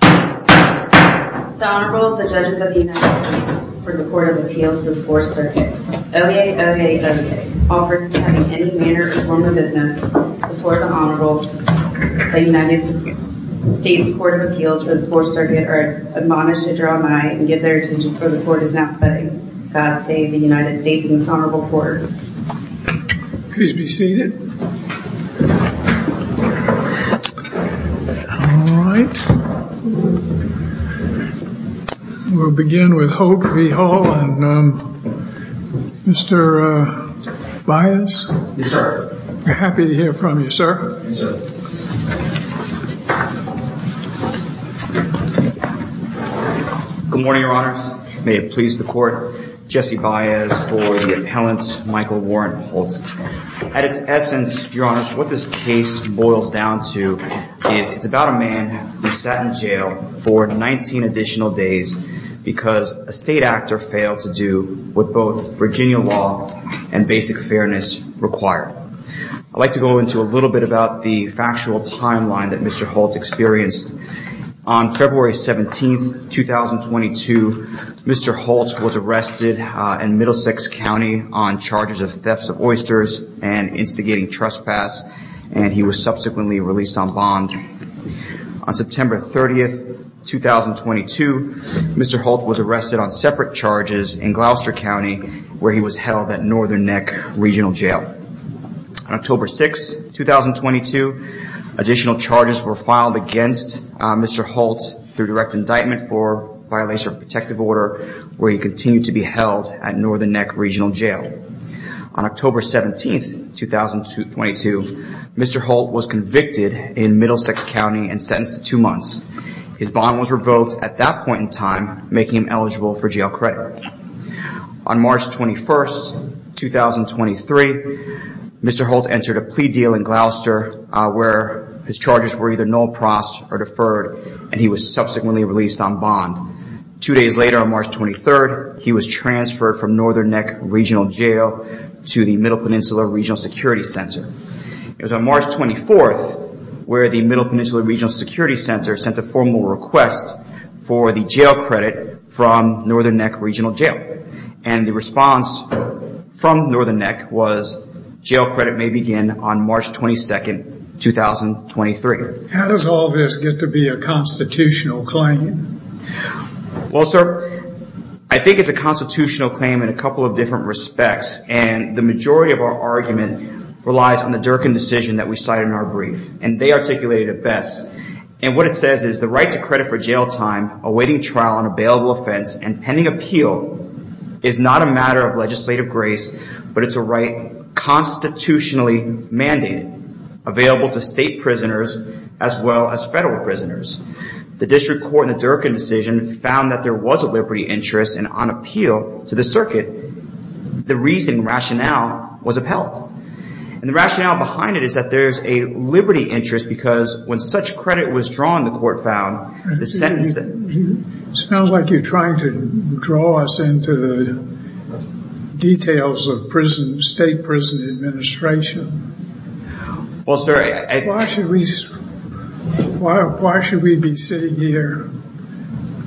The Honorable, the Judges of the United States, for the Court of Appeals for the Fourth Circuit. OAOAOA, all persons having any manner or form of business before the Honorable, the United States Court of Appeals for the Fourth Circuit, are admonished to draw nigh and give their attention where the Court is not studying. God save the United States and this Honorable Court. Please be seated. All right. We'll begin with Holt v. Hull. And Mr. Baez? Yes, sir. We're happy to hear from you, sir. Yes, sir. Good morning, Your Honors. May it please the Court. Jesse Baez for the Appellant, Michael Warren Holt. At its essence, Your Honors, what this case boils down to is it's about a man who sat in jail for 19 additional days because a state actor failed to do what both Virginia law and basic fairness require. I'd like to go into a little bit about the factual timeline that Mr. Holt experienced. On February 17th, 2022, Mr. Holt was arrested in Middlesex County on charges of thefts of oysters and instigating trespass, and he was subsequently released on bond. On September 30th, 2022, Mr. Holt was arrested on separate charges in Gloucester County, where he was held at Northern Neck Regional Jail. On October 6th, 2022, additional charges were filed against Mr. Holt through direct indictment for violation of a protective order, where he continued to be held at Northern Neck Regional Jail. On October 17th, 2022, Mr. Holt was convicted in Middlesex County and sentenced to two months. His bond was revoked at that point in time, making him eligible for jail credit. On March 21st, 2023, Mr. Holt entered a plea deal in Gloucester, where his charges were either null-pros or deferred, and he was subsequently released on bond. Two days later, on March 23rd, he was transferred from Northern Neck Regional Jail to the Middle Peninsula Regional Security Center. It was on March 24th where the Middle Peninsula Regional Security Center sent a formal request for the jail credit from Northern Neck Regional Jail. And the response from Northern Neck was, jail credit may begin on March 22nd, 2023. How does all this get to be a constitutional claim? Well, sir, I think it's a constitutional claim in a couple of different respects. And the majority of our argument relies on the Durkin decision that we cite in our brief. And they articulate it best. And what it says is, the right to credit for jail time awaiting trial on a bailable offense and pending appeal is not a matter of legislative grace, but it's a right constitutionally mandated, available to state prisoners as well as federal prisoners. The district court in the Durkin decision found that there was a liberty interest, and on appeal to the circuit, the reasoning rationale was upheld. And the rationale behind it is that there's a liberty interest because when such credit was drawn, the court found the sentence that... It sounds like you're trying to draw us into the details of state prison administration. Well, sir, I... Why should we be sitting here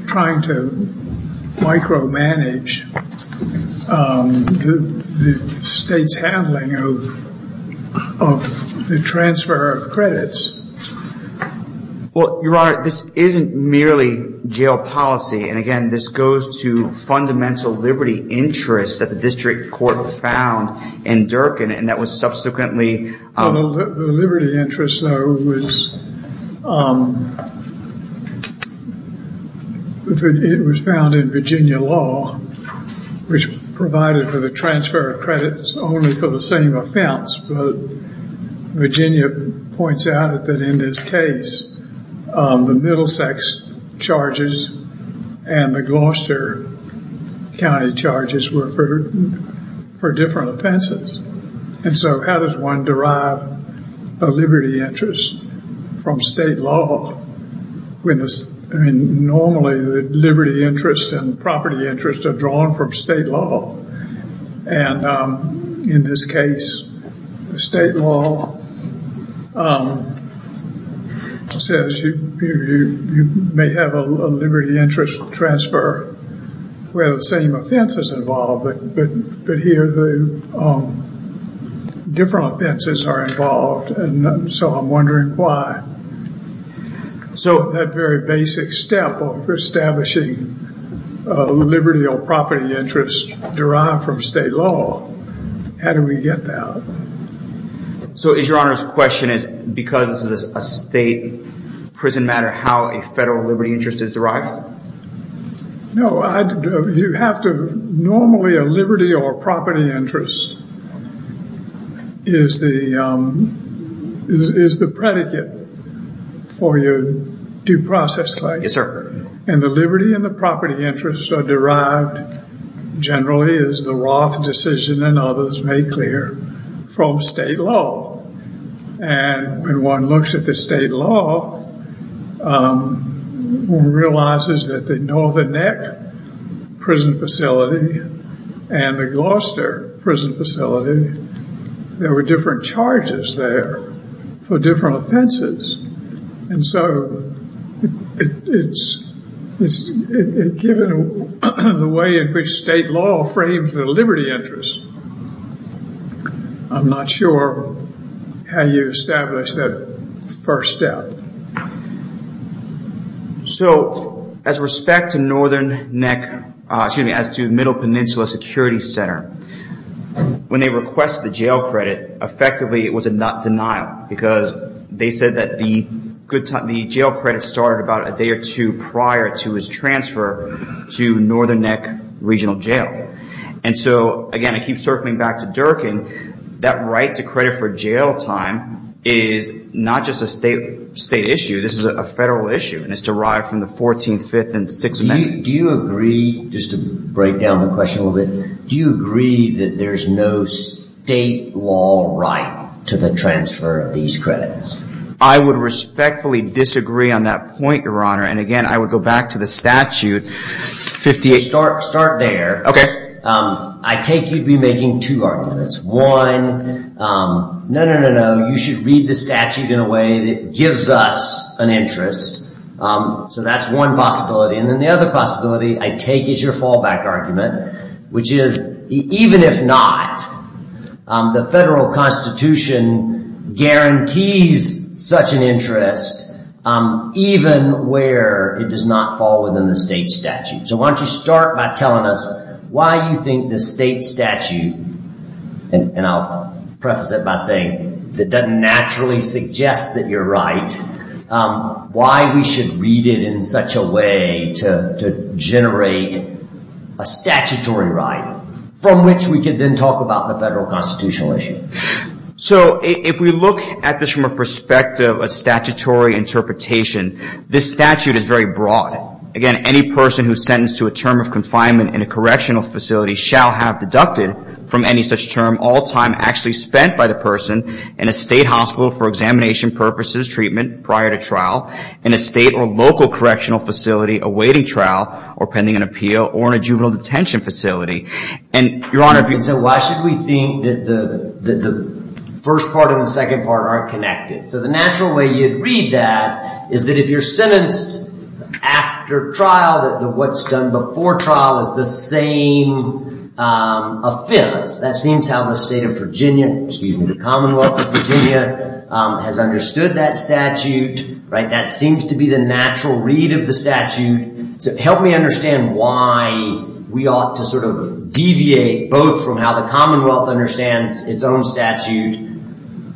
trying to micromanage the state's handling of the transfer of credits? Well, Your Honor, this isn't merely jail policy. And again, this goes to fundamental liberty interests that the district court found in Durkin. And that was subsequently... The liberty interest, though, was... It was found in Virginia law, which provided for the transfer of credits only for the same offense. But Virginia points out that in this case, the Middlesex charges and the Gloucester County charges were for different offenses. And so how does one derive a liberty interest from state law? Normally, the liberty interest and property interest are drawn from state law. And in this case, the state law says you may have a liberty interest transfer where the same offense is involved. But here, the different offenses are involved. And so I'm wondering why. So... That very basic step of establishing liberty or property interest derived from state law. How do we get that? So is Your Honor's question is because this is a state prison matter, how a federal liberty interest is derived? No. You have to... Normally, a liberty or property interest is the predicate for your due process claim. Yes, sir. And the liberty and the property interests are derived generally, as the Roth decision and others made clear, from state law. And when one looks at the state law, one realizes that the Northern Neck prison facility and the Gloucester prison facility, there were different charges there for different offenses. And so given the way in which state law frames the liberty interest, I'm not sure how you establish that first step. So as respect to Northern Neck, excuse me, as to Middle Peninsula Security Center, when they requested the jail credit, effectively it was a denial. Because they said that the jail credit started about a day or two prior to his transfer to Northern Neck Regional Jail. And so again, I keep circling back to Durkin, that right to credit for jail time is not just a state issue. This is a federal issue, and it's derived from the 14th, 5th, and 6th Amendments. Do you agree, just to break down the question a little bit, do you agree that there's no state law right to the transfer of these credits? I would respectfully disagree on that point, Your Honor. And again, I would go back to the statute, 58... Start there. Okay. I take you'd be making two arguments. One, no, no, no, no, you should read the statute in a way that gives us an interest. So that's one possibility. And then the other possibility I take is your fallback argument, which is even if not, the federal constitution guarantees such an interest, even where it does not fall within the state statute. So why don't you start by telling us why you think the state statute, and I'll preface it by saying it doesn't naturally suggest that you're right, why we should read it in such a way to generate a statutory right, from which we can then talk about the federal constitutional issue. So if we look at this from a perspective, a statutory interpretation, this statute is very broad. Again, any person who is sentenced to a term of confinement in a correctional facility shall have deducted from any such term all time actually spent by the person in a state hospital for examination purposes, treatment, prior to trial, in a state or local correctional facility awaiting trial or pending an appeal, or in a juvenile detention facility. And, Your Honor, if you... So why should we think that the first part and the second part aren't connected? So the natural way you'd read that is that if you're sentenced after trial, that what's done before trial is the same offense. That seems how the state of Virginia, excuse me, the Commonwealth of Virginia, has understood that statute, right? That seems to be the natural read of the statute. So help me understand why we ought to sort of deviate both from how the Commonwealth understands its own statute,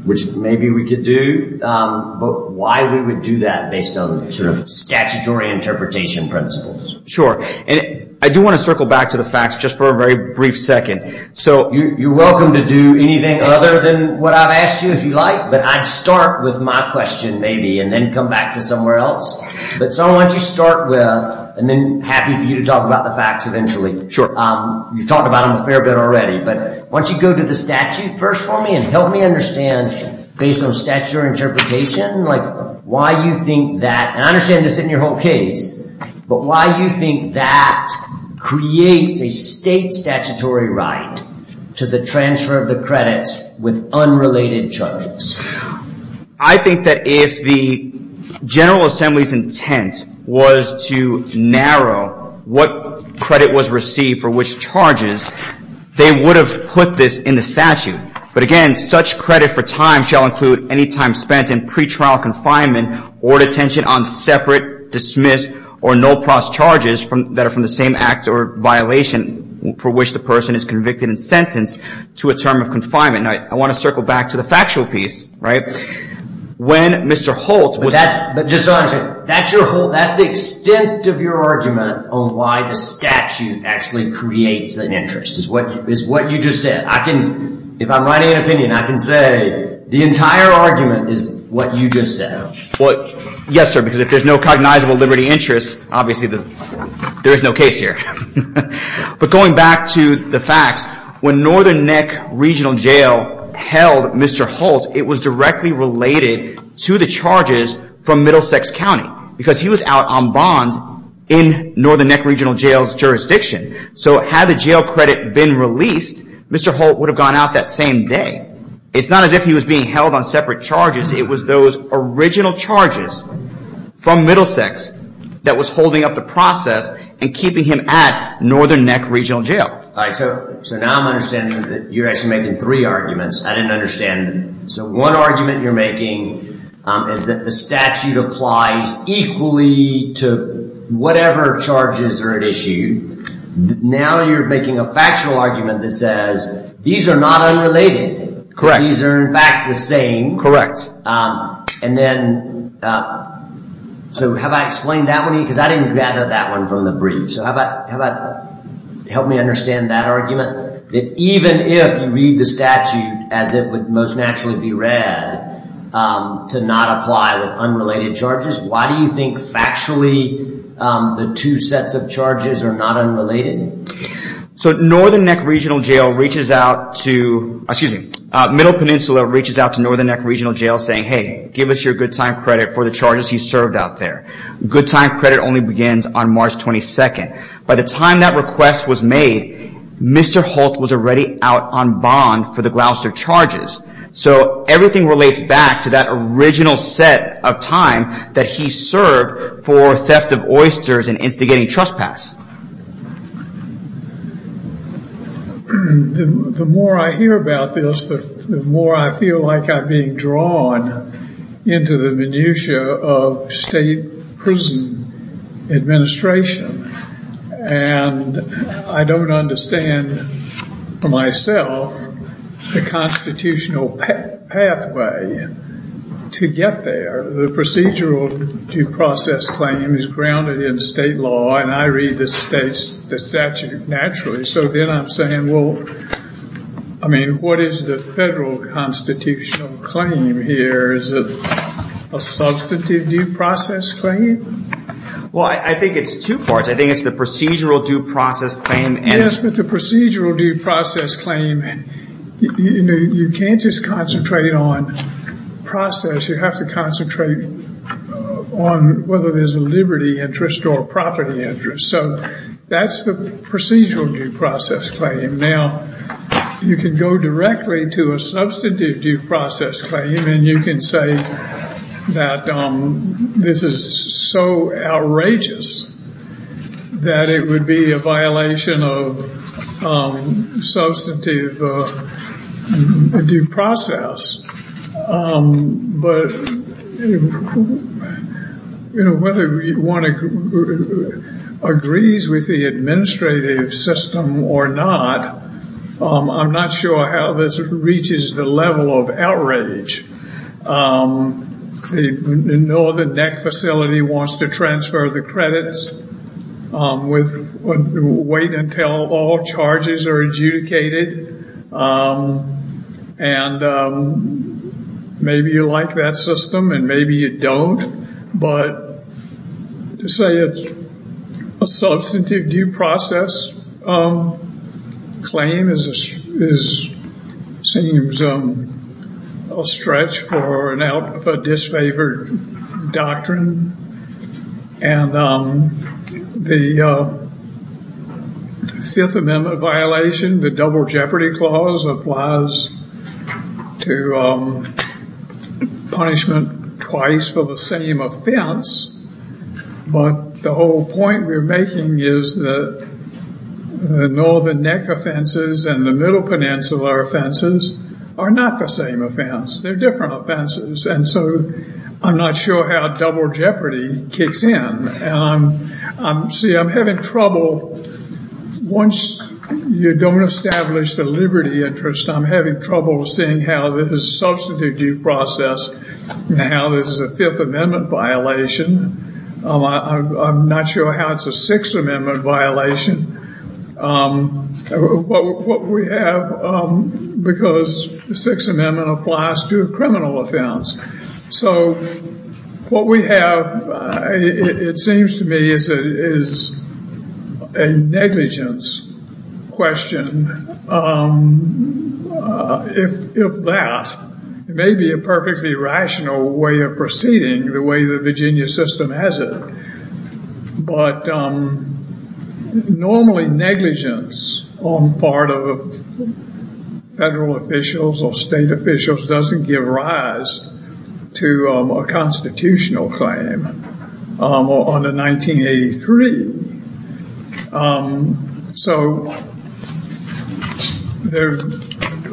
which maybe we could do, but why we would do that based on sort of statutory interpretation principles. Sure. And I do want to circle back to the facts just for a very brief second. So you're welcome to do anything other than what I've asked you if you like, but I'd start with my question maybe and then come back to somewhere else. But so I want you to start with, and then happy for you to talk about the facts eventually. You've talked about them a fair bit already. But why don't you go to the statute first for me and help me understand, based on statutory interpretation, like why you think that, and I understand this isn't your whole case, but why you think that creates a state statutory right to the transfer of the credits with unrelated charges. I think that if the General Assembly's intent was to narrow what credit was received for which charges, they would have put this in the statute. But, again, such credit for time shall include any time spent in pretrial confinement or detention on separate, dismissed, or no-pros charges that are from the same act or violation for which the person is convicted and sentenced to a term of confinement. Now, I want to circle back to the factual piece, right? When Mr. Holt was ---- That's the extent of your argument on why the statute actually creates an interest is what you just said. If I'm writing an opinion, I can say the entire argument is what you just said. Yes, sir, because if there's no cognizable liberty interest, obviously there is no case here. But going back to the facts, when Northern Neck Regional Jail held Mr. Holt, it was directly related to the charges from Middlesex County because he was out on bond in Northern Neck Regional Jail's jurisdiction. So had the jail credit been released, Mr. Holt would have gone out that same day. It's not as if he was being held on separate charges. It was those original charges from Middlesex that was holding up the process and keeping him at Northern Neck Regional Jail. All right, so now I'm understanding that you're actually making three arguments. I didn't understand. So one argument you're making is that the statute applies equally to whatever charges are at issue. Now you're making a factual argument that says these are not unrelated. Correct. These are in fact the same. And then, so have I explained that one? Because I didn't gather that one from the brief. So how about help me understand that argument? That even if you read the statute as it would most naturally be read to not apply with unrelated charges, why do you think factually the two sets of charges are not unrelated? So Northern Neck Regional Jail reaches out to, excuse me, Middle Peninsula reaches out to Northern Neck Regional Jail saying, hey, give us your good time credit for the charges he served out there. Good time credit only begins on March 22nd. By the time that request was made, Mr. Holt was already out on bond for the Gloucester charges. So everything relates back to that original set of time that he served for theft of oysters and instigating trespass. The more I hear about this, the more I feel like I'm being drawn into the minutia of state prison administration. And I don't understand myself the constitutional pathway to get there. The procedural due process claim is grounded in state law. And I read the statute naturally. So then I'm saying, well, I mean, what is the federal constitutional claim here? Is it a substantive due process claim? Well, I think it's two parts. I think it's the procedural due process claim. Yes, but the procedural due process claim, you can't just concentrate on process. You have to concentrate on whether there's a liberty interest or a property interest. So that's the procedural due process claim. Now, you can go directly to a substantive due process claim and you can say that this is so outrageous that it would be a violation of substantive due process. But, you know, whether one agrees with the administrative system or not, I'm not sure how this reaches the level of outrage. You know the NEC facility wants to transfer the credits, wait until all charges are adjudicated. And maybe you like that system and maybe you don't. But to say it's a substantive due process claim seems a stretch for a disfavored doctrine. And the Fifth Amendment violation, the Double Jeopardy Clause, applies to punishment twice for the same offense. But the whole point we're making is that the Northern NEC offenses and the Middle Peninsula offenses are not the same offense. They're different offenses. And so I'm not sure how Double Jeopardy kicks in. See, I'm having trouble. Once you don't establish the liberty interest, I'm having trouble seeing how this is a substantive due process and how this is a Fifth Amendment violation. I'm not sure how it's a Sixth Amendment violation. What we have, because the Sixth Amendment applies to a criminal offense. So what we have, it seems to me, is a negligence question. If that, it may be a perfectly rational way of proceeding the way the Virginia system has it. But normally negligence on the part of federal officials or state officials doesn't give rise to a constitutional claim on the 1983. So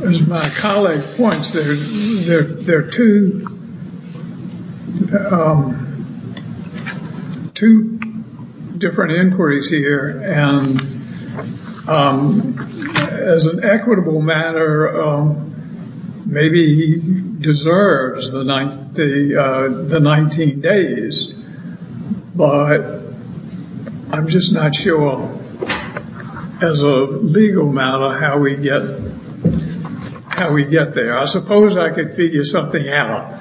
as my colleague points, there are two different inquiries here. And as an equitable matter, maybe he deserves the 19 days. But I'm just not sure, as a legal matter, how we get there. I suppose I could figure something out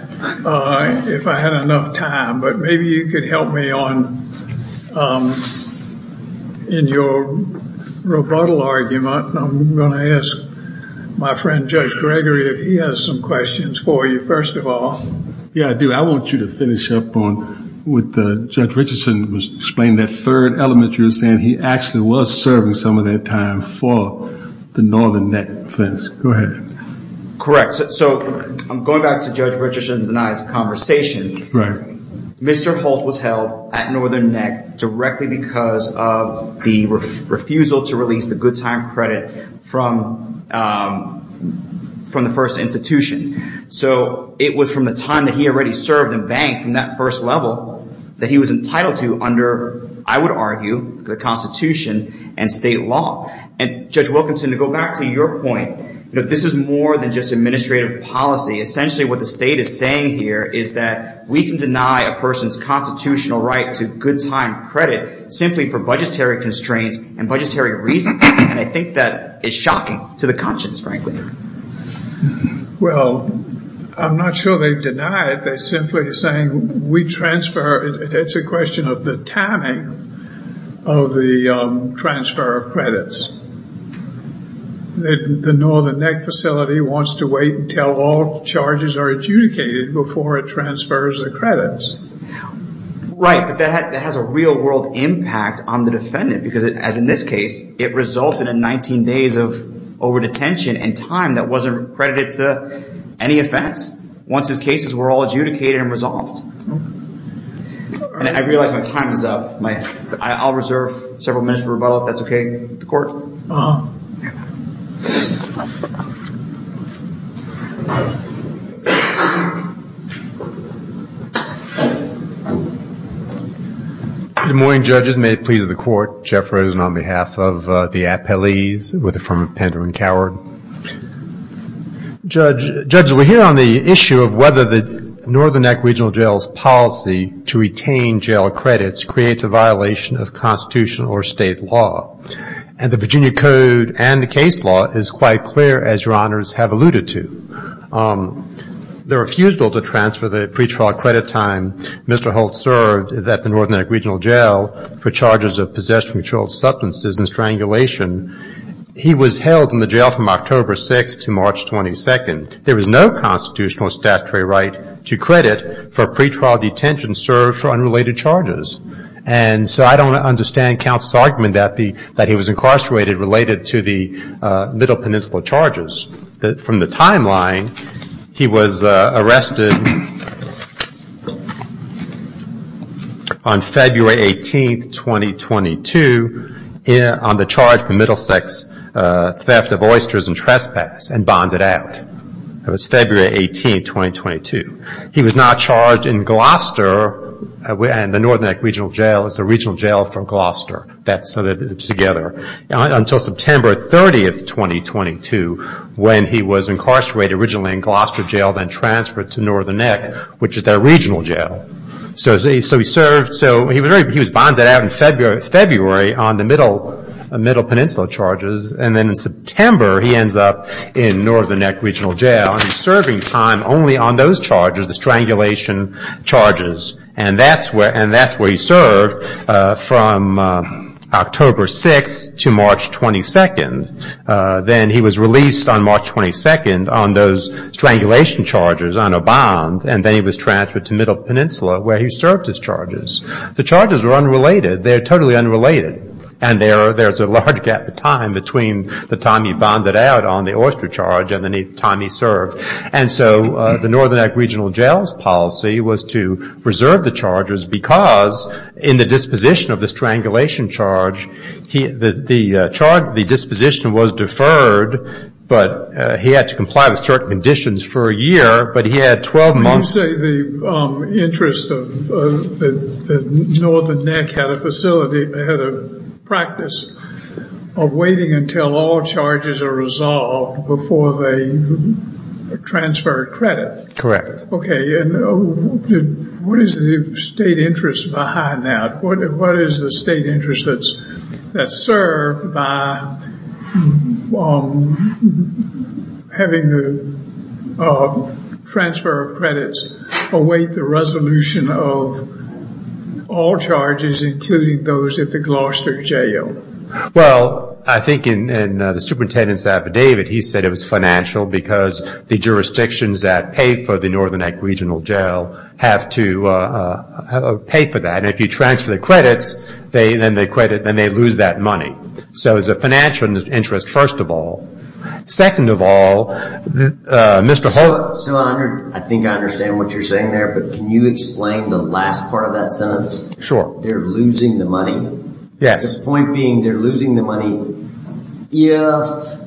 if I had enough time. But maybe you could help me in your rebuttal argument. I'm going to ask my friend Judge Gregory if he has some questions for you, first of all. Yeah, I do. I want you to finish up on what Judge Richardson was explaining, that third element you were saying. He actually was serving some of that time for the Northern Net offense. Go ahead. So I'm going back to Judge Richardson's and I's conversation. Right. Mr. Holt was held at Northern Net directly because of the refusal to release the good time credit from the first institution. So it was from the time that he already served and banked from that first level that he was entitled to under, I would argue, the Constitution and state law. And Judge Wilkinson, to go back to your point, this is more than just administrative policy. Essentially what the state is saying here is that we can deny a person's constitutional right to good time credit simply for budgetary constraints and budgetary reasons. And I think that is shocking to the conscience, frankly. Well, I'm not sure they've denied it. It's a question of the timing of the transfer of credits. The Northern Net facility wants to wait until all charges are adjudicated before it transfers the credits. Right, but that has a real-world impact on the defendant because, as in this case, it resulted in 19 days of overdetention and time that wasn't credited to any offense. Once his cases were all adjudicated and resolved. And I realize my time is up. I'll reserve several minutes for rebuttal, if that's okay with the court. Good morning, judges. May it please the court. Jeff Rosen on behalf of the appellees with the firm of Pender and Coward. Judges, we're here on the issue of whether the Northern Neck Regional Jail's policy to retain jail credits creates a violation of Constitutional or state law. And the Virginia Code and the case law is quite clear, as Your Honors have alluded to. The refusal to transfer the pretrial credit time Mr. Holt served at the Northern Neck Regional Jail for charges of possession of controlled substances and strangulation, he was held in the jail from October 6th to March 22nd. There was no Constitutional statutory right to credit for pretrial detention served for unrelated charges. And so I don't understand counsel's argument that he was incarcerated related to the Little Peninsula charges. From the timeline, he was arrested on February 18th, 2022, on the charge for Middlesex theft of oysters and trespass and bonded out. That was February 18th, 2022. He was now charged in Gloucester, and the Northern Neck Regional Jail is a regional jail from Gloucester. Until September 30th, 2022, when he was incarcerated originally in Gloucester Jail, then transferred to Northern Neck, which is their regional jail. So he was bonded out in February on the Middle Peninsula charges, and then in September he ends up in Northern Neck Regional Jail and he's serving time only on those charges, the strangulation charges. And that's where he served from October 6th to March 22nd. Then he was released on March 22nd on those strangulation charges, on a bond, and then he was transferred to Middle Peninsula, where he served his charges. The charges are unrelated. They're totally unrelated. And there's a large gap of time between the time he bonded out on the oyster charge and the time he served. And so the Northern Neck Regional Jail's policy was to preserve the charges, because in the disposition of the strangulation charge, the disposition was deferred, but he had to comply with certain conditions for a year, but he had 12 months. I would say the interest of the Northern Neck had a facility, they had a practice of waiting until all charges are resolved before they transferred credit. Okay, and what is the state interest behind that? What is the state interest that's served by having the transfer of credits await the resolution of all charges, including those at the Gloucester Jail? Well, I think in the superintendent's affidavit, he said it was financial because the jurisdictions that pay for the Northern Neck Regional Jail have to pay for that. And if you transfer the credits, then they lose that money. So it was a financial interest, first of all. Second of all, Mr. Holt. So I think I understand what you're saying there, but can you explain the last part of that sentence? Sure. They're losing the money? Yes. The point being they're losing the money if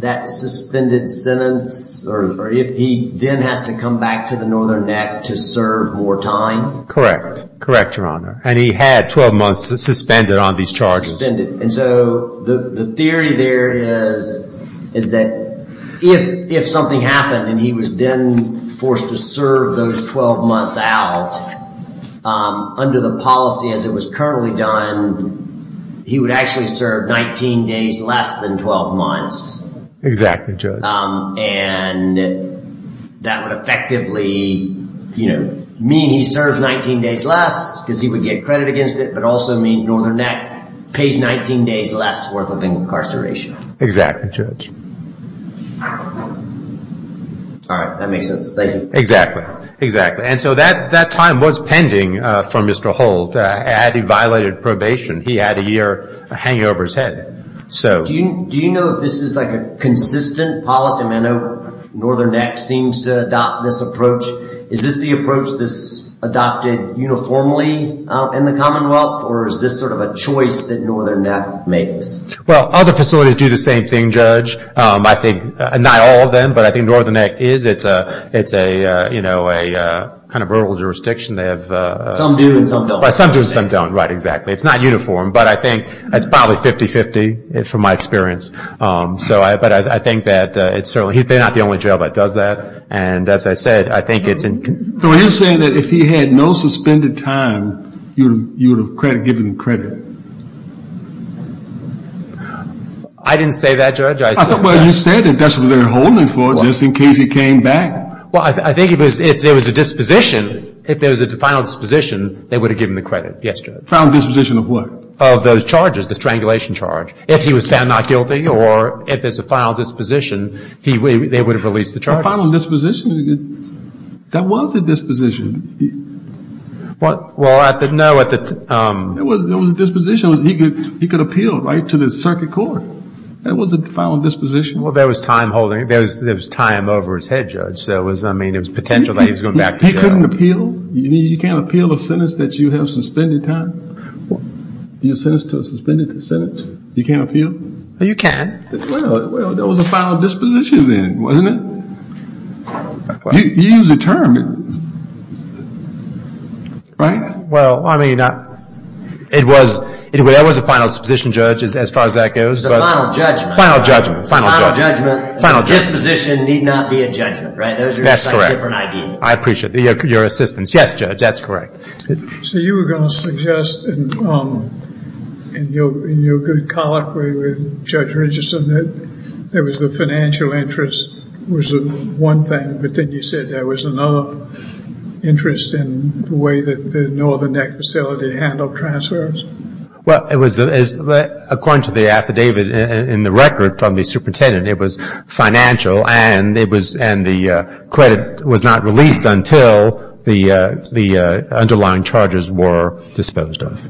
that suspended sentence, or if he then has to come back to the Northern Neck to serve more time? Correct. Correct, Your Honor. And he had 12 months suspended on these charges. And so the theory there is that if something happened and he was then forced to serve those 12 months out, under the policy as it was currently done, he would actually serve 19 days less than 12 months. Exactly, Judge. And that would effectively mean he serves 19 days less because he would get credit against it, but also means Northern Neck pays 19 days less worth of incarceration. Exactly, Judge. All right. That makes sense. Thank you. Exactly. And so that time was pending for Mr. Holt. Had he violated probation, he had a year hanging over his head. Do you know if this is a consistent policy? I know Northern Neck seems to adopt this approach. Is this the approach that's adopted uniformly in the Commonwealth, or is this sort of a choice that Northern Neck makes? Well, other facilities do the same thing, Judge. Not all of them, but I think Northern Neck is. It's a kind of rural jurisdiction. Some do and some don't. Some do and some don't. Right, exactly. It's not uniform, but I think it's probably 50-50 from my experience. But I think that it's certainly he's not the only jail that does that. And as I said, I think it's an So you're saying that if he had no suspended time, you would have given him credit? I didn't say that, Judge. Well, you said that that's what they were holding him for just in case he came back. Well, I think if there was a disposition, if there was a final disposition, they would have given him the credit. Yes, Judge. Final disposition of what? Of those charges, the strangulation charge. If he was found not guilty or if there's a final disposition, they would have released the charges. A final disposition? That was a disposition. Well, no, at the It was a disposition. He could appeal, right, to the circuit court. That was a final disposition. Well, there was time over his head, Judge. I mean, it was potential that he was going back to jail. He couldn't appeal? You can't appeal a sentence that you have suspended time? You're sentenced to a suspended sentence? You can't appeal? You can. Well, there was a final disposition then, wasn't it? You used a term. Right? Well, I mean, it was. That was a final disposition, Judge, as far as that goes. It was a final judgment. Final judgment. Final judgment. Final judgment. Disposition need not be a judgment, right? That's correct. Those are two different ideas. I appreciate your assistance. Yes, Judge, that's correct. So you were going to suggest, in your good colloquy with Judge Richardson, that there was the financial interest was one thing, but then you said there was another interest in the way that the Northern Neck facility handled transfers? Well, it was, according to the affidavit in the record from the superintendent, it was financial and the credit was not released until the underlying charges were disposed of.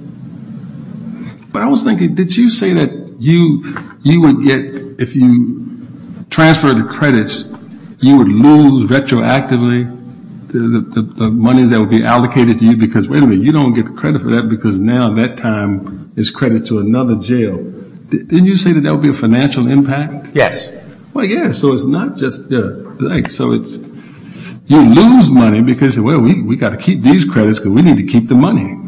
But I was thinking, did you say that you would get, if you transferred the credits, you would lose retroactively the monies that would be allocated to you because, wait a minute, you don't get the credit for that because now that time is credit to another jail. Didn't you say that that would be a financial impact? Yes. Well, yeah. So it's not just, like, so it's, you lose money because, well, we've got to keep these credits because we need to keep the money.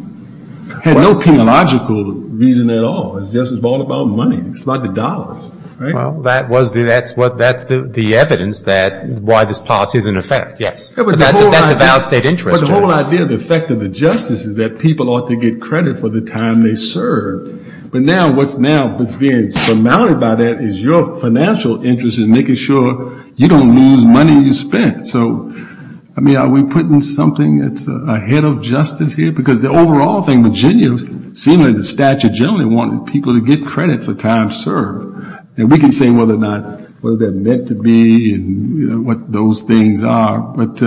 Had no penalogical reason at all. It's just all about money. It's not the dollars, right? Well, that was the, that's what, that's the evidence that, why this policy is in effect, yes. But that's a valid state interest. But the whole idea of the effect of the justice is that people ought to get credit for the time they serve. But now what's now being surmounted by that is your financial interest in making sure you don't lose money you spent. So, I mean, are we putting something that's ahead of justice here? Because the overall thing, Virginia, seemingly the statute generally wanting people to get credit for time served. And we can say whether or not, whether they're meant to be and what those things are. But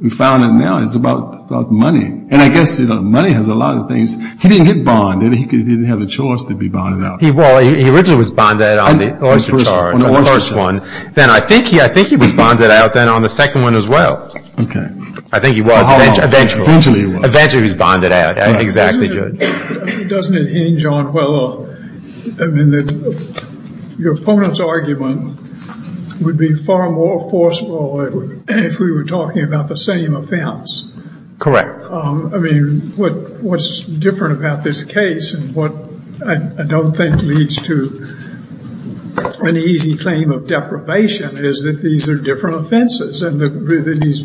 we found that now it's about money. And I guess money has a lot of things. He didn't get bonded. He didn't have the choice to be bonded out. Well, he originally was bonded out on the oyster charge, on the first one. Then I think he was bonded out then on the second one as well. Okay. I think he was eventually. Eventually he was. Eventually he was bonded out. Exactly, Judge. Doesn't it hinge on, well, I mean, your opponent's argument would be far more forceful if we were talking about the same offense. Correct. I mean, what's different about this case and what I don't think leads to an easy claim of deprivation is that these are different offenses. And he's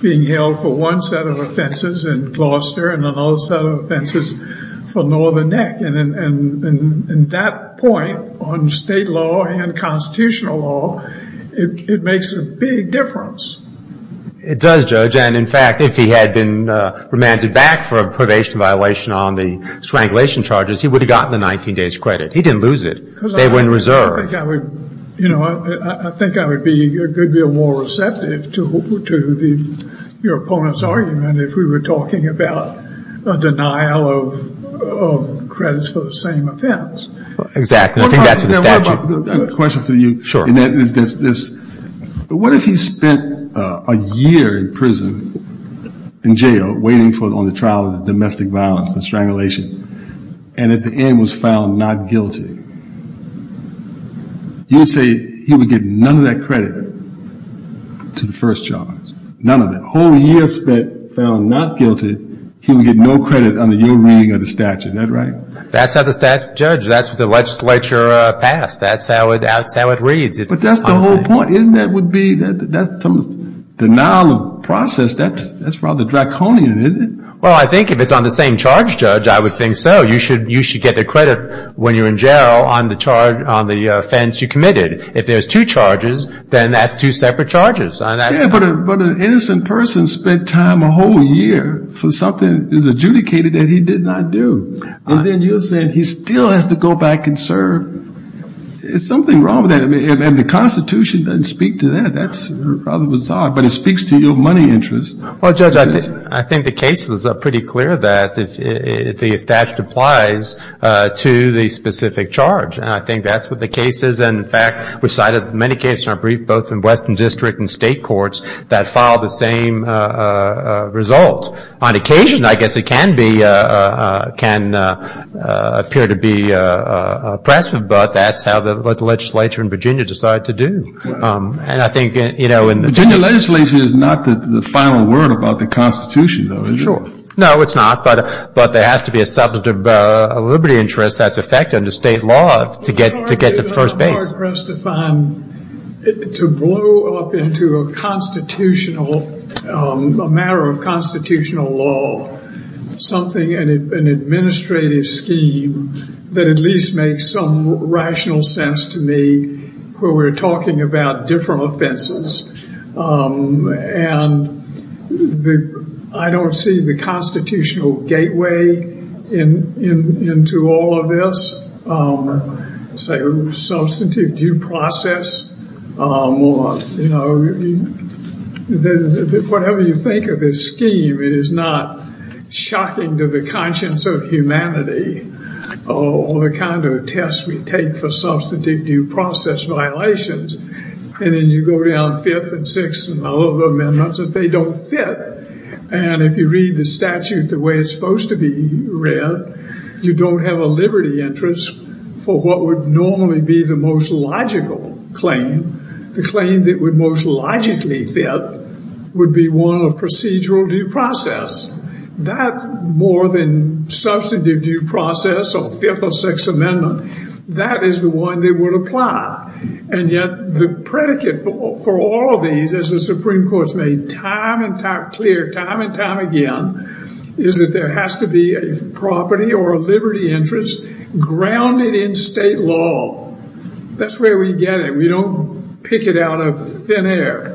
being held for one set of offenses in Gloucester and another set of offenses for Northern Neck. And that point on state law and constitutional law, it makes a big difference. It does, Judge. And, in fact, if he had been remanded back for a probation violation on the strangulation charges, he would have gotten the 19 days credit. He didn't lose it. They were in reserve. You know, I think I would be more receptive to your opponent's argument if we were talking about a denial of credits for the same offense. Exactly. I think that's the statute. I have a question for you. Sure. What if he spent a year in prison, in jail, waiting on the trial of domestic violence and strangulation, and at the end was found not guilty? You would say he would get none of that credit to the first charge. None of it. A whole year spent found not guilty, he would get no credit under your reading of the statute. Is that right? That's how the statute, Judge. That's what the legislature passed. That's how it reads. But that's the whole point, isn't it? That would be denial of process. That's rather draconian, isn't it? Well, I think if it's on the same charge, Judge, I would think so. You should get the credit when you're in jail on the offense you committed. If there's two charges, then that's two separate charges. Yeah, but an innocent person spent time a whole year for something that's adjudicated that he did not do. And then you're saying he still has to go back and serve. There's something wrong with that. And the Constitution doesn't speak to that. That's rather bizarre. But it speaks to your money interest. Well, Judge, I think the case is pretty clear that the statute applies to the specific charge. And I think that's what the case is. And, in fact, we cited many cases in our brief both in western district and state courts that filed the same result. On occasion, I guess it can appear to be oppressive, but that's how the legislature in Virginia decided to do. And I think, you know, in the- Virginia legislation is not the final word about the Constitution, though, is it? Sure. No, it's not. But there has to be a subject of liberty interest that's affected under state law to get to the first base. It's very hard, Kristofan, to blow up into a matter of constitutional law something, an administrative scheme, that at least makes some rational sense to me where we're talking about different offenses. And I don't see the constitutional gateway into all of this. Substantive due process, you know, whatever you think of this scheme, it is not shocking to the conscience of humanity or the kind of test we take for substantive due process violations. And then you go down fifth and sixth and all of the amendments, and they don't fit. And if you read the statute the way it's supposed to be read, you don't have a liberty interest for what would normally be the most logical claim. The claim that would most logically fit would be one of procedural due process. That more than substantive due process or fifth or sixth amendment, that is the one that would apply. And yet the predicate for all of these, as the Supreme Court's made clear time and time again, is that there has to be a property or a liberty interest grounded in state law. That's where we get it. We don't pick it out of thin air.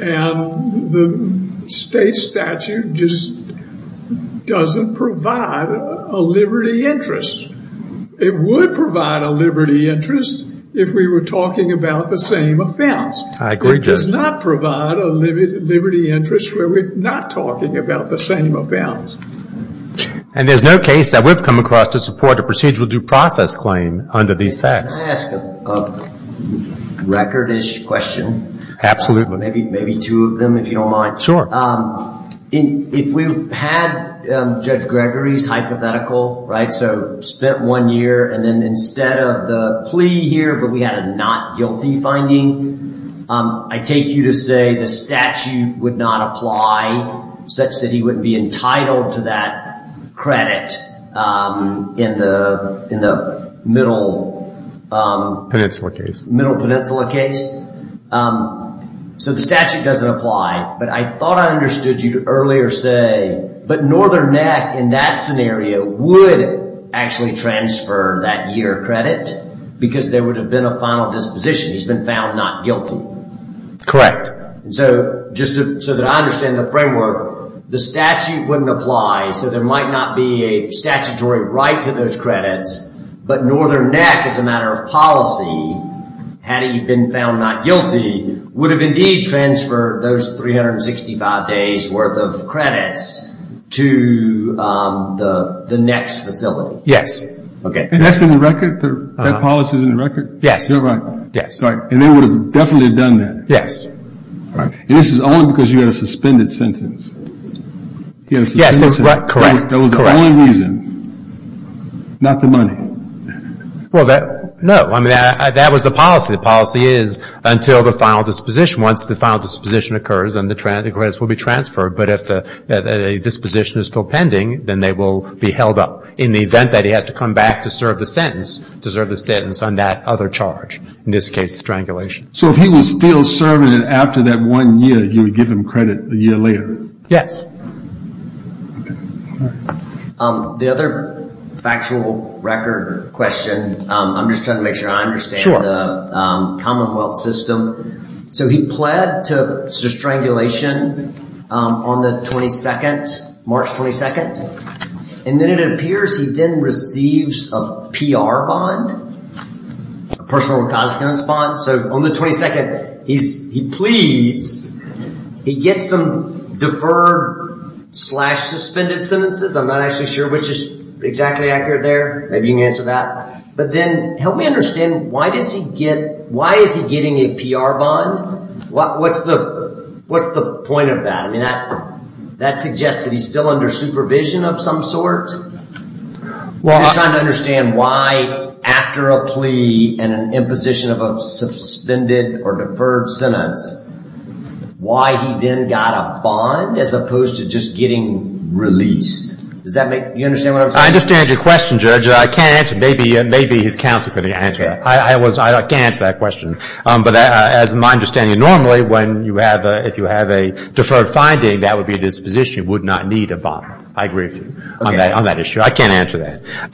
And the state statute just doesn't provide a liberty interest. It would provide a liberty interest if we were talking about the same offense. I agree, Judge. It does not provide a liberty interest where we're not talking about the same offense. And there's no case that we've come across to support a procedural due process claim under these facts. Can I ask a recordish question? Absolutely. Maybe two of them, if you don't mind. Sure. If we had Judge Gregory's hypothetical, right? So spent one year and then instead of the plea here, but we had a not guilty finding, I take you to say the statute would not apply such that he would be entitled to that credit in the middle. Peninsula case. Middle peninsula case. So the statute doesn't apply. But I thought I understood you earlier say, but Northern Neck in that scenario would actually transfer that year credit because there would have been a final disposition. He's been found not guilty. Correct. So just so that I understand the framework, the statute wouldn't apply. So there might not be a statutory right to those credits. But Northern Neck, as a matter of policy, had he been found not guilty, would have indeed transferred those 365 days worth of credits to the next facility. Okay. And that's in the record? That policy is in the record? Yes. You're right. Yes. Right. And they would have definitely done that. Yes. Right. And this is only because you had a suspended sentence. Yes. Correct. Correct. That was the only reason, not the money. Well, no. I mean, that was the policy. The policy is until the final disposition. Once the final disposition occurs, then the credits will be transferred. But if the disposition is still pending, then they will be held up in the event that he has to come back to serve the sentence, to serve the sentence on that other charge, in this case strangulation. So if he was still serving it after that one year, you would give him credit a year later? Yes. Correct. Okay. The other factual record question, I'm just trying to make sure I understand. The commonwealth system. So he pled to strangulation on the 22nd, March 22nd. And then it appears he then receives a PR bond, a personal consequence bond. So on the 22nd, he pleads. He gets some deferred slash suspended sentences. I'm not actually sure which is exactly accurate there. Maybe you can answer that. But then help me understand, why is he getting a PR bond? What's the point of that? I mean, that suggests that he's still under supervision of some sort. I'm just trying to understand why after a plea and an imposition of a suspended or deferred sentence, why he then got a bond as opposed to just getting released. Do you understand what I'm saying? I understand your question, Judge. I can't answer that. Maybe his counsel could answer that. I can't answer that question. But as my understanding, normally if you have a deferred finding, that would be a disposition. You would not need a bond. I agree with you on that issue. I can't answer that.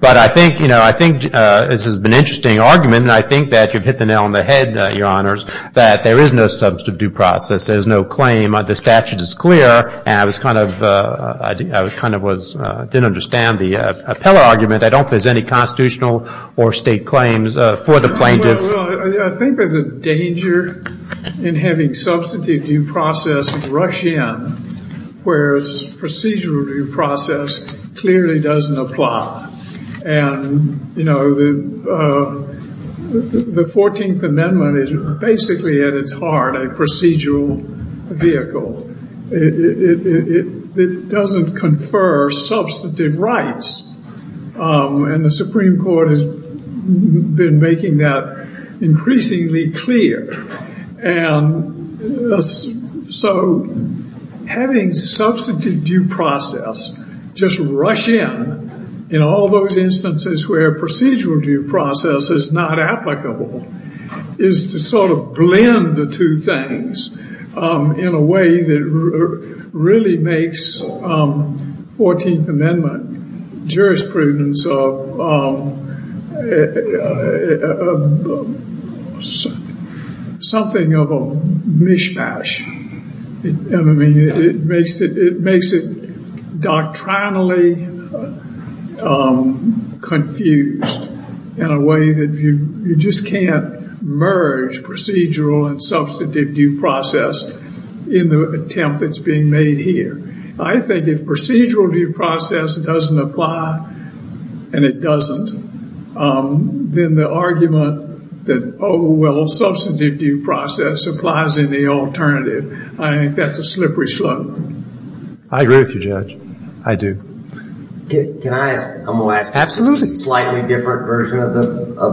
But I think, you know, I think this has been an interesting argument, and I think that you've hit the nail on the head, Your Honors, that there is no substantive due process. There is no claim. The statute is clear. And I was kind of, I didn't understand the appellate argument. I don't think there's any constitutional or state claims for the plaintiff. Well, I think there's a danger in having substantive due process rush in, whereas procedural due process clearly doesn't apply. And, you know, the 14th Amendment is basically at its heart a procedural vehicle. It doesn't confer substantive rights. And the Supreme Court has been making that increasingly clear. And so having substantive due process just rush in, in all those instances where procedural due process is not applicable, is to sort of blend the two things in a way that really makes 14th Amendment jurisprudence something of a mishmash. I mean, it makes it doctrinally confused in a way that you just can't merge procedural and substantive due process in the attempt that's being made here. I think if procedural due process doesn't apply, and it doesn't, then the argument that, oh, well, substantive due process applies in the alternative, I think that's a slippery slope. I agree with you, Judge. I do. Can I, I'm going to ask a slightly different version of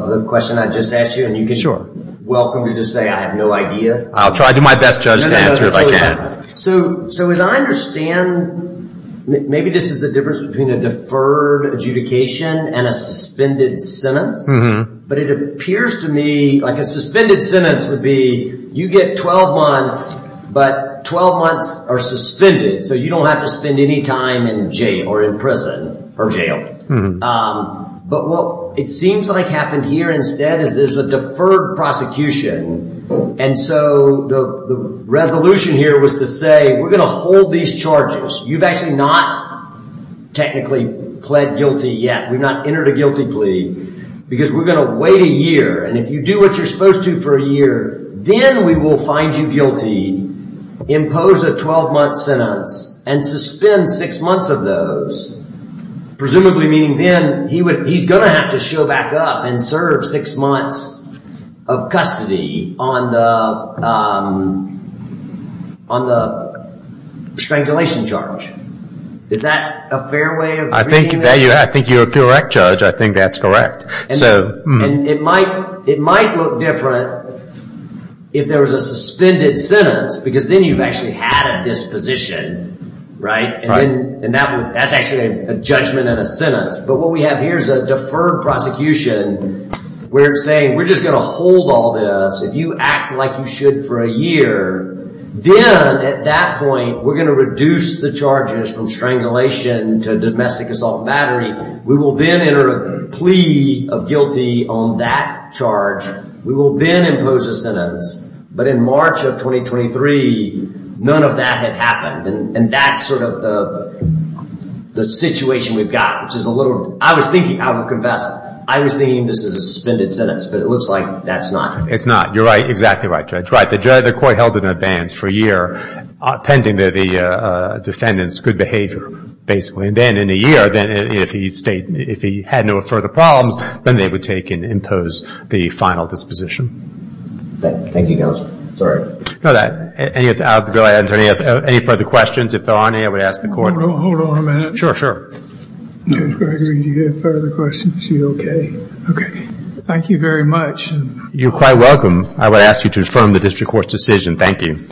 the question I just asked you, and you can welcome to just say I have no idea. I'll try to do my best, Judge, to answer if I can. So as I understand, maybe this is the difference between a deferred adjudication and a suspended sentence. But it appears to me like a suspended sentence would be you get 12 months, but 12 months are suspended. So you don't have to spend any time in jail or in prison or jail. But what it seems like happened here instead is there's a deferred prosecution. And so the resolution here was to say we're going to hold these charges. You've actually not technically pled guilty yet. We've not entered a guilty plea because we're going to wait a year. And if you do what you're supposed to for a year, then we will find you guilty, impose a 12-month sentence, and suspend six months of those, presumably meaning then he's going to have to show back up and serve six months of custody on the strangulation charge. Is that a fair way of reading this? I think you're correct, Judge. I think that's correct. And it might look different if there was a suspended sentence because then you've actually had a disposition. And that's actually a judgment and a sentence. But what we have here is a deferred prosecution. We're saying we're just going to hold all this. If you act like you should for a year, then at that point we're going to reduce the charges from strangulation to domestic assault battery. We will then enter a plea of guilty on that charge. We will then impose a sentence. But in March of 2023, none of that had happened. And that's sort of the situation we've got, which is a little – I was thinking, I will confess, I was thinking this is a suspended sentence, but it looks like that's not. It's not. You're right. Exactly right, Judge. Right. The court held it in advance for a year pending the defendant's good behavior, basically. And then in a year, if he had no further problems, then they would take and impose the final disposition. Thank you, counsel. Sorry. No, that – any further questions? If there are any, I would ask the court. Hold on a minute. Sure, sure. Judge Gregory, do you have further questions? Are you okay? Okay. Thank you very much. You're quite welcome. I would ask you to affirm the district court's decision. Thank you.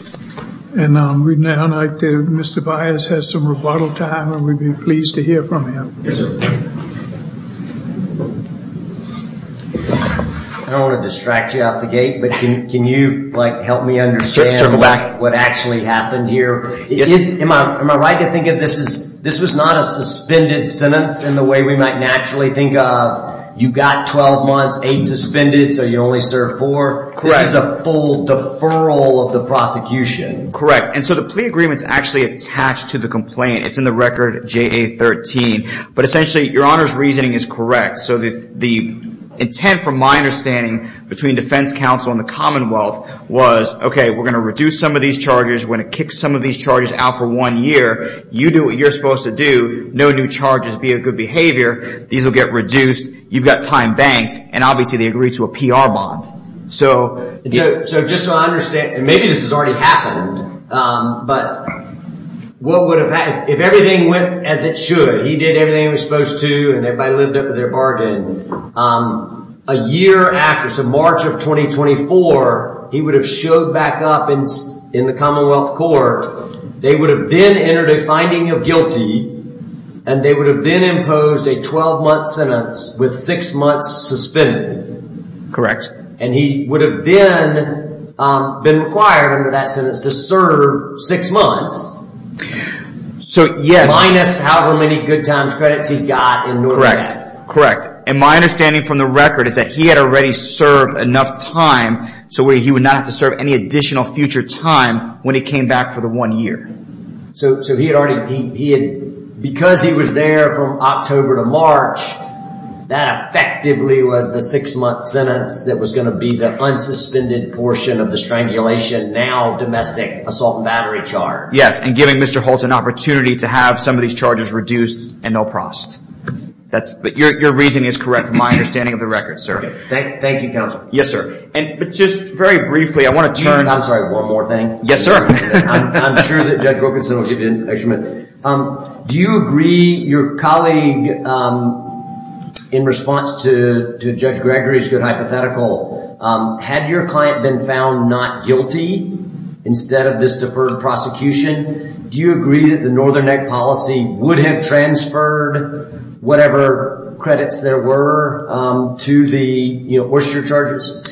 And we'd now like to – Mr. Baez has some rebuttal time, and we'd be pleased to hear from him. Yes, sir. I don't want to distract you off the gate, but can you, like, help me understand what actually happened here? Yes, sir. Am I right to think of this as – this was not a suspended sentence in the way we might naturally think of. You got 12 months, eight suspended, so you only served four. Correct. This is a full deferral of the prosecution. Correct. And so the plea agreement's actually attached to the complaint. It's in the record JA-13. But essentially, Your Honor's reasoning is correct. So the intent, from my understanding, between defense counsel and the Commonwealth was, okay, we're going to reduce some of these charges. We're going to kick some of these charges out for one year. You do what you're supposed to do. No new charges, be of good behavior. These will get reduced. You've got time banks, and obviously they agreed to a PR bond. So just so I understand, and maybe this has already happened, but what would have – if everything went as it should, he did everything he was supposed to and everybody lived up to their bargain, a year after, so March of 2024, he would have showed back up in the Commonwealth Court. They would have then entered a finding of guilty, and they would have then imposed a 12-month sentence with six months suspended. Correct. And he would have then been required under that sentence to serve six months. Minus however many good times credits he's got in New Orleans. Correct. And my understanding from the record is that he had already served enough time so he would not have to serve any additional future time when he came back for the one year. So he had already – because he was there from October to March, that effectively was the six-month sentence that was going to be the unsuspended portion of the strangulation, now domestic, assault and battery charge. Yes, and giving Mr. Holtz an opportunity to have some of these charges reduced and no prost. But your reasoning is correct from my understanding of the record, sir. Thank you, counsel. Yes, sir. But just very briefly, I want to turn – I'm sorry, one more thing. Yes, sir. I'm sure that Judge Wilkinson will give you an extra minute. Do you agree, your colleague, in response to Judge Gregory's good hypothetical, had your client been found not guilty instead of this deferred prosecution, do you agree that the Northern Act policy would have transferred whatever credits there were to the – what's your charges?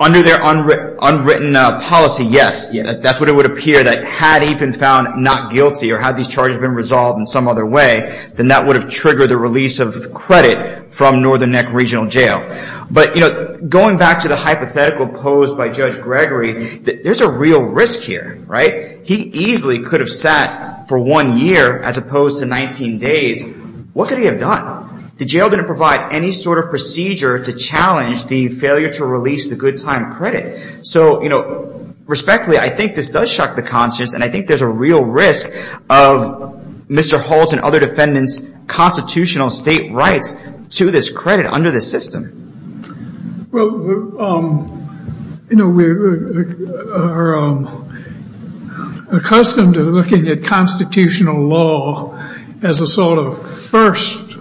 Under their unwritten policy, yes. That's what it would appear that had he been found not guilty or had these charges been resolved in some other way, then that would have triggered the release of credit from Northern Act Regional Jail. But, you know, going back to the hypothetical posed by Judge Gregory, there's a real risk here, right? He easily could have sat for one year as opposed to 19 days. What could he have done? The jail didn't provide any sort of procedure to challenge the failure to release the good time credit. So, you know, respectfully, I think this does shock the conscience, and I think there's a real risk of Mr. Holt and other defendants' constitutional state rights to this credit under this system. Well, you know, we're accustomed to looking at constitutional law as a sort of first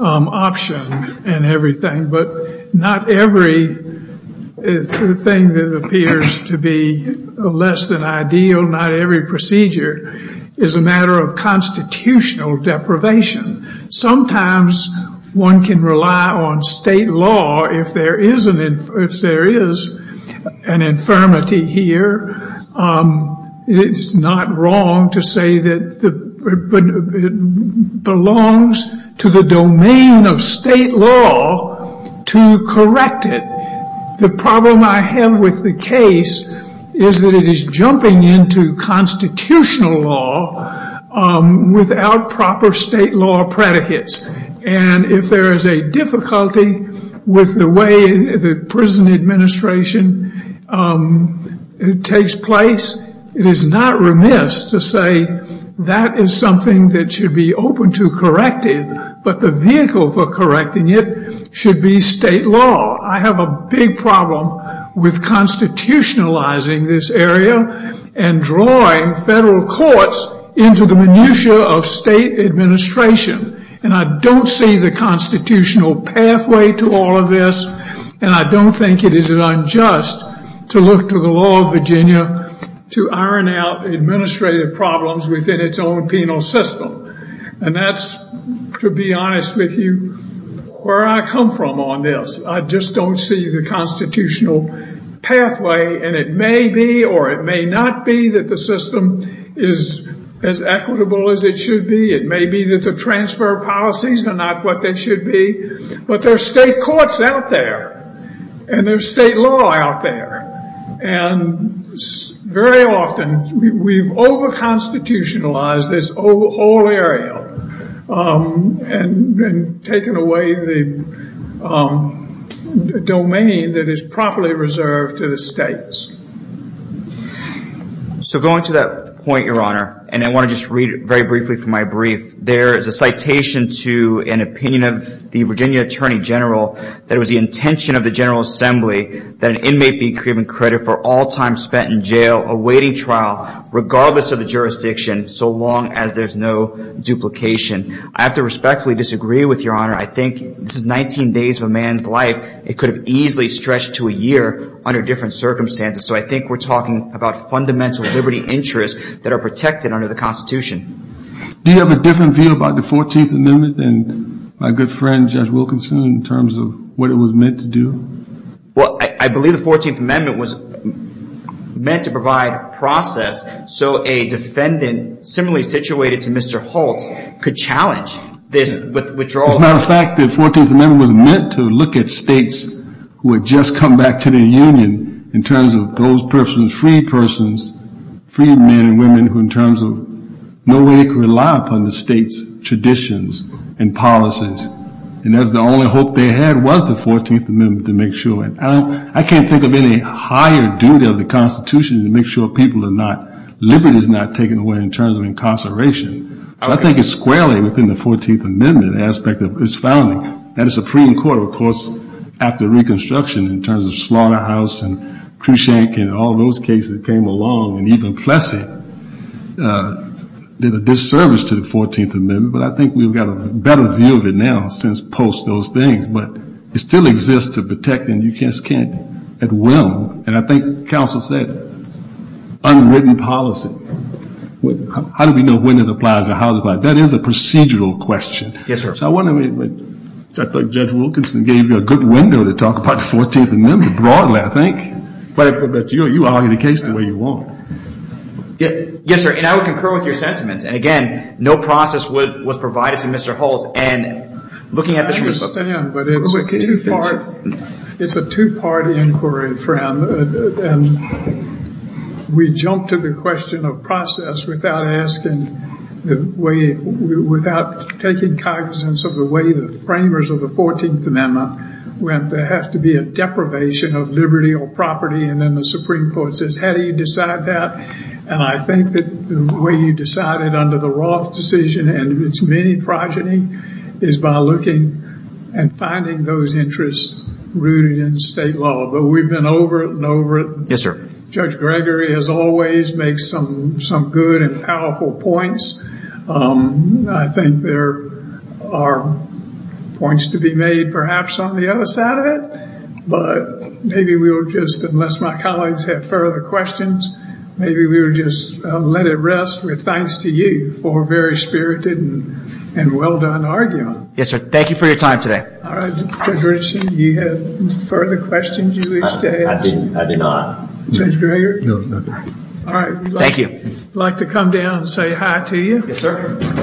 option and everything, but not everything that appears to be less than ideal, not every procedure, is a matter of constitutional deprivation. Sometimes one can rely on state law if there is an infirmity here. It's not wrong to say that it belongs to the domain of state law to correct it. The problem I have with the case is that it is jumping into constitutional law without proper state law predicates. And if there is a difficulty with the way the prison administration takes place, it is not remiss to say that is something that should be open to corrective, but the vehicle for correcting it should be state law. I have a big problem with constitutionalizing this area and drawing federal courts into the minutia of state administration. And I don't see the constitutional pathway to all of this, and I don't think it is unjust to look to the law of Virginia to iron out administrative problems within its own penal system. And that's, to be honest with you, where I come from on this. I just don't see the constitutional pathway, and it may be or it may not be that the system is as equitable as it should be. It may be that the transfer of policies are not what they should be. But there are state courts out there, and there is state law out there. And very often we have over-constitutionalized this whole area and taken away the domain that is properly reserved to the states. So going to that point, Your Honor, and I want to just read very briefly from my brief. There is a citation to an opinion of the Virginia Attorney General that it was the intention of the General Assembly that an inmate be given credit for all time spent in jail awaiting trial, regardless of the jurisdiction, so long as there's no duplication. I have to respectfully disagree with Your Honor. I think this is 19 days of a man's life. It could have easily stretched to a year under different circumstances. So I think we're talking about fundamental liberty interests that are protected under the Constitution. Do you have a different view about the 14th Amendment than my good friend Judge Wilkinson in terms of what it was meant to do? Well, I believe the 14th Amendment was meant to provide process so a defendant similarly situated to Mr. Holtz could challenge this withdrawal. As a matter of fact, the 14th Amendment was meant to look at states who had just come back to the Union in terms of those persons, free persons, free men and women, who in terms of no way they could rely upon the state's traditions and policies. And that's the only hope they had was the 14th Amendment to make sure. I can't think of any higher duty of the Constitution to make sure people are not, liberty is not taken away in terms of incarceration. So I think it's squarely within the 14th Amendment aspect of its founding. And the Supreme Court, of course, after Reconstruction in terms of Slaughterhouse and Crescent and all those cases that came along and even Plessy did a disservice to the 14th Amendment. But I think we've got a better view of it now since post those things. But it still exists to protect and you just can't at will. And I think counsel said unwritten policy. How do we know when it applies or how it applies? That is a procedural question. Yes, sir. I thought Judge Wilkinson gave you a good window to talk about the 14th Amendment broadly, I think. But you argue the case the way you want. Yes, sir. And I would concur with your sentiments. And, again, no process was provided to Mr. Holt. And looking at the truth. I understand, but it's a two-part inquiry, Fran. And we jump to the question of process without asking the way, without taking cognizance of the way the framers of the 14th Amendment went. There has to be a deprivation of liberty or property. And then the Supreme Court says, how do you decide that? And I think that the way you decided under the Roth decision and its many progeny is by looking and finding those interests rooted in state law. But we've been over it and over it. Yes, sir. Judge Gregory, as always, makes some good and powerful points. I think there are points to be made, perhaps, on the other side of it. But maybe we'll just, unless my colleagues have further questions, maybe we'll just let it rest with thanks to you for a very spirited and well-done argument. Yes, sir. Thank you for your time today. All right, Judge Richardson, do you have further questions you wish to add? I do not. Judge Gregory? No, sir. All right. Thank you. I'd like to come down and say hi to you. Yes, sir.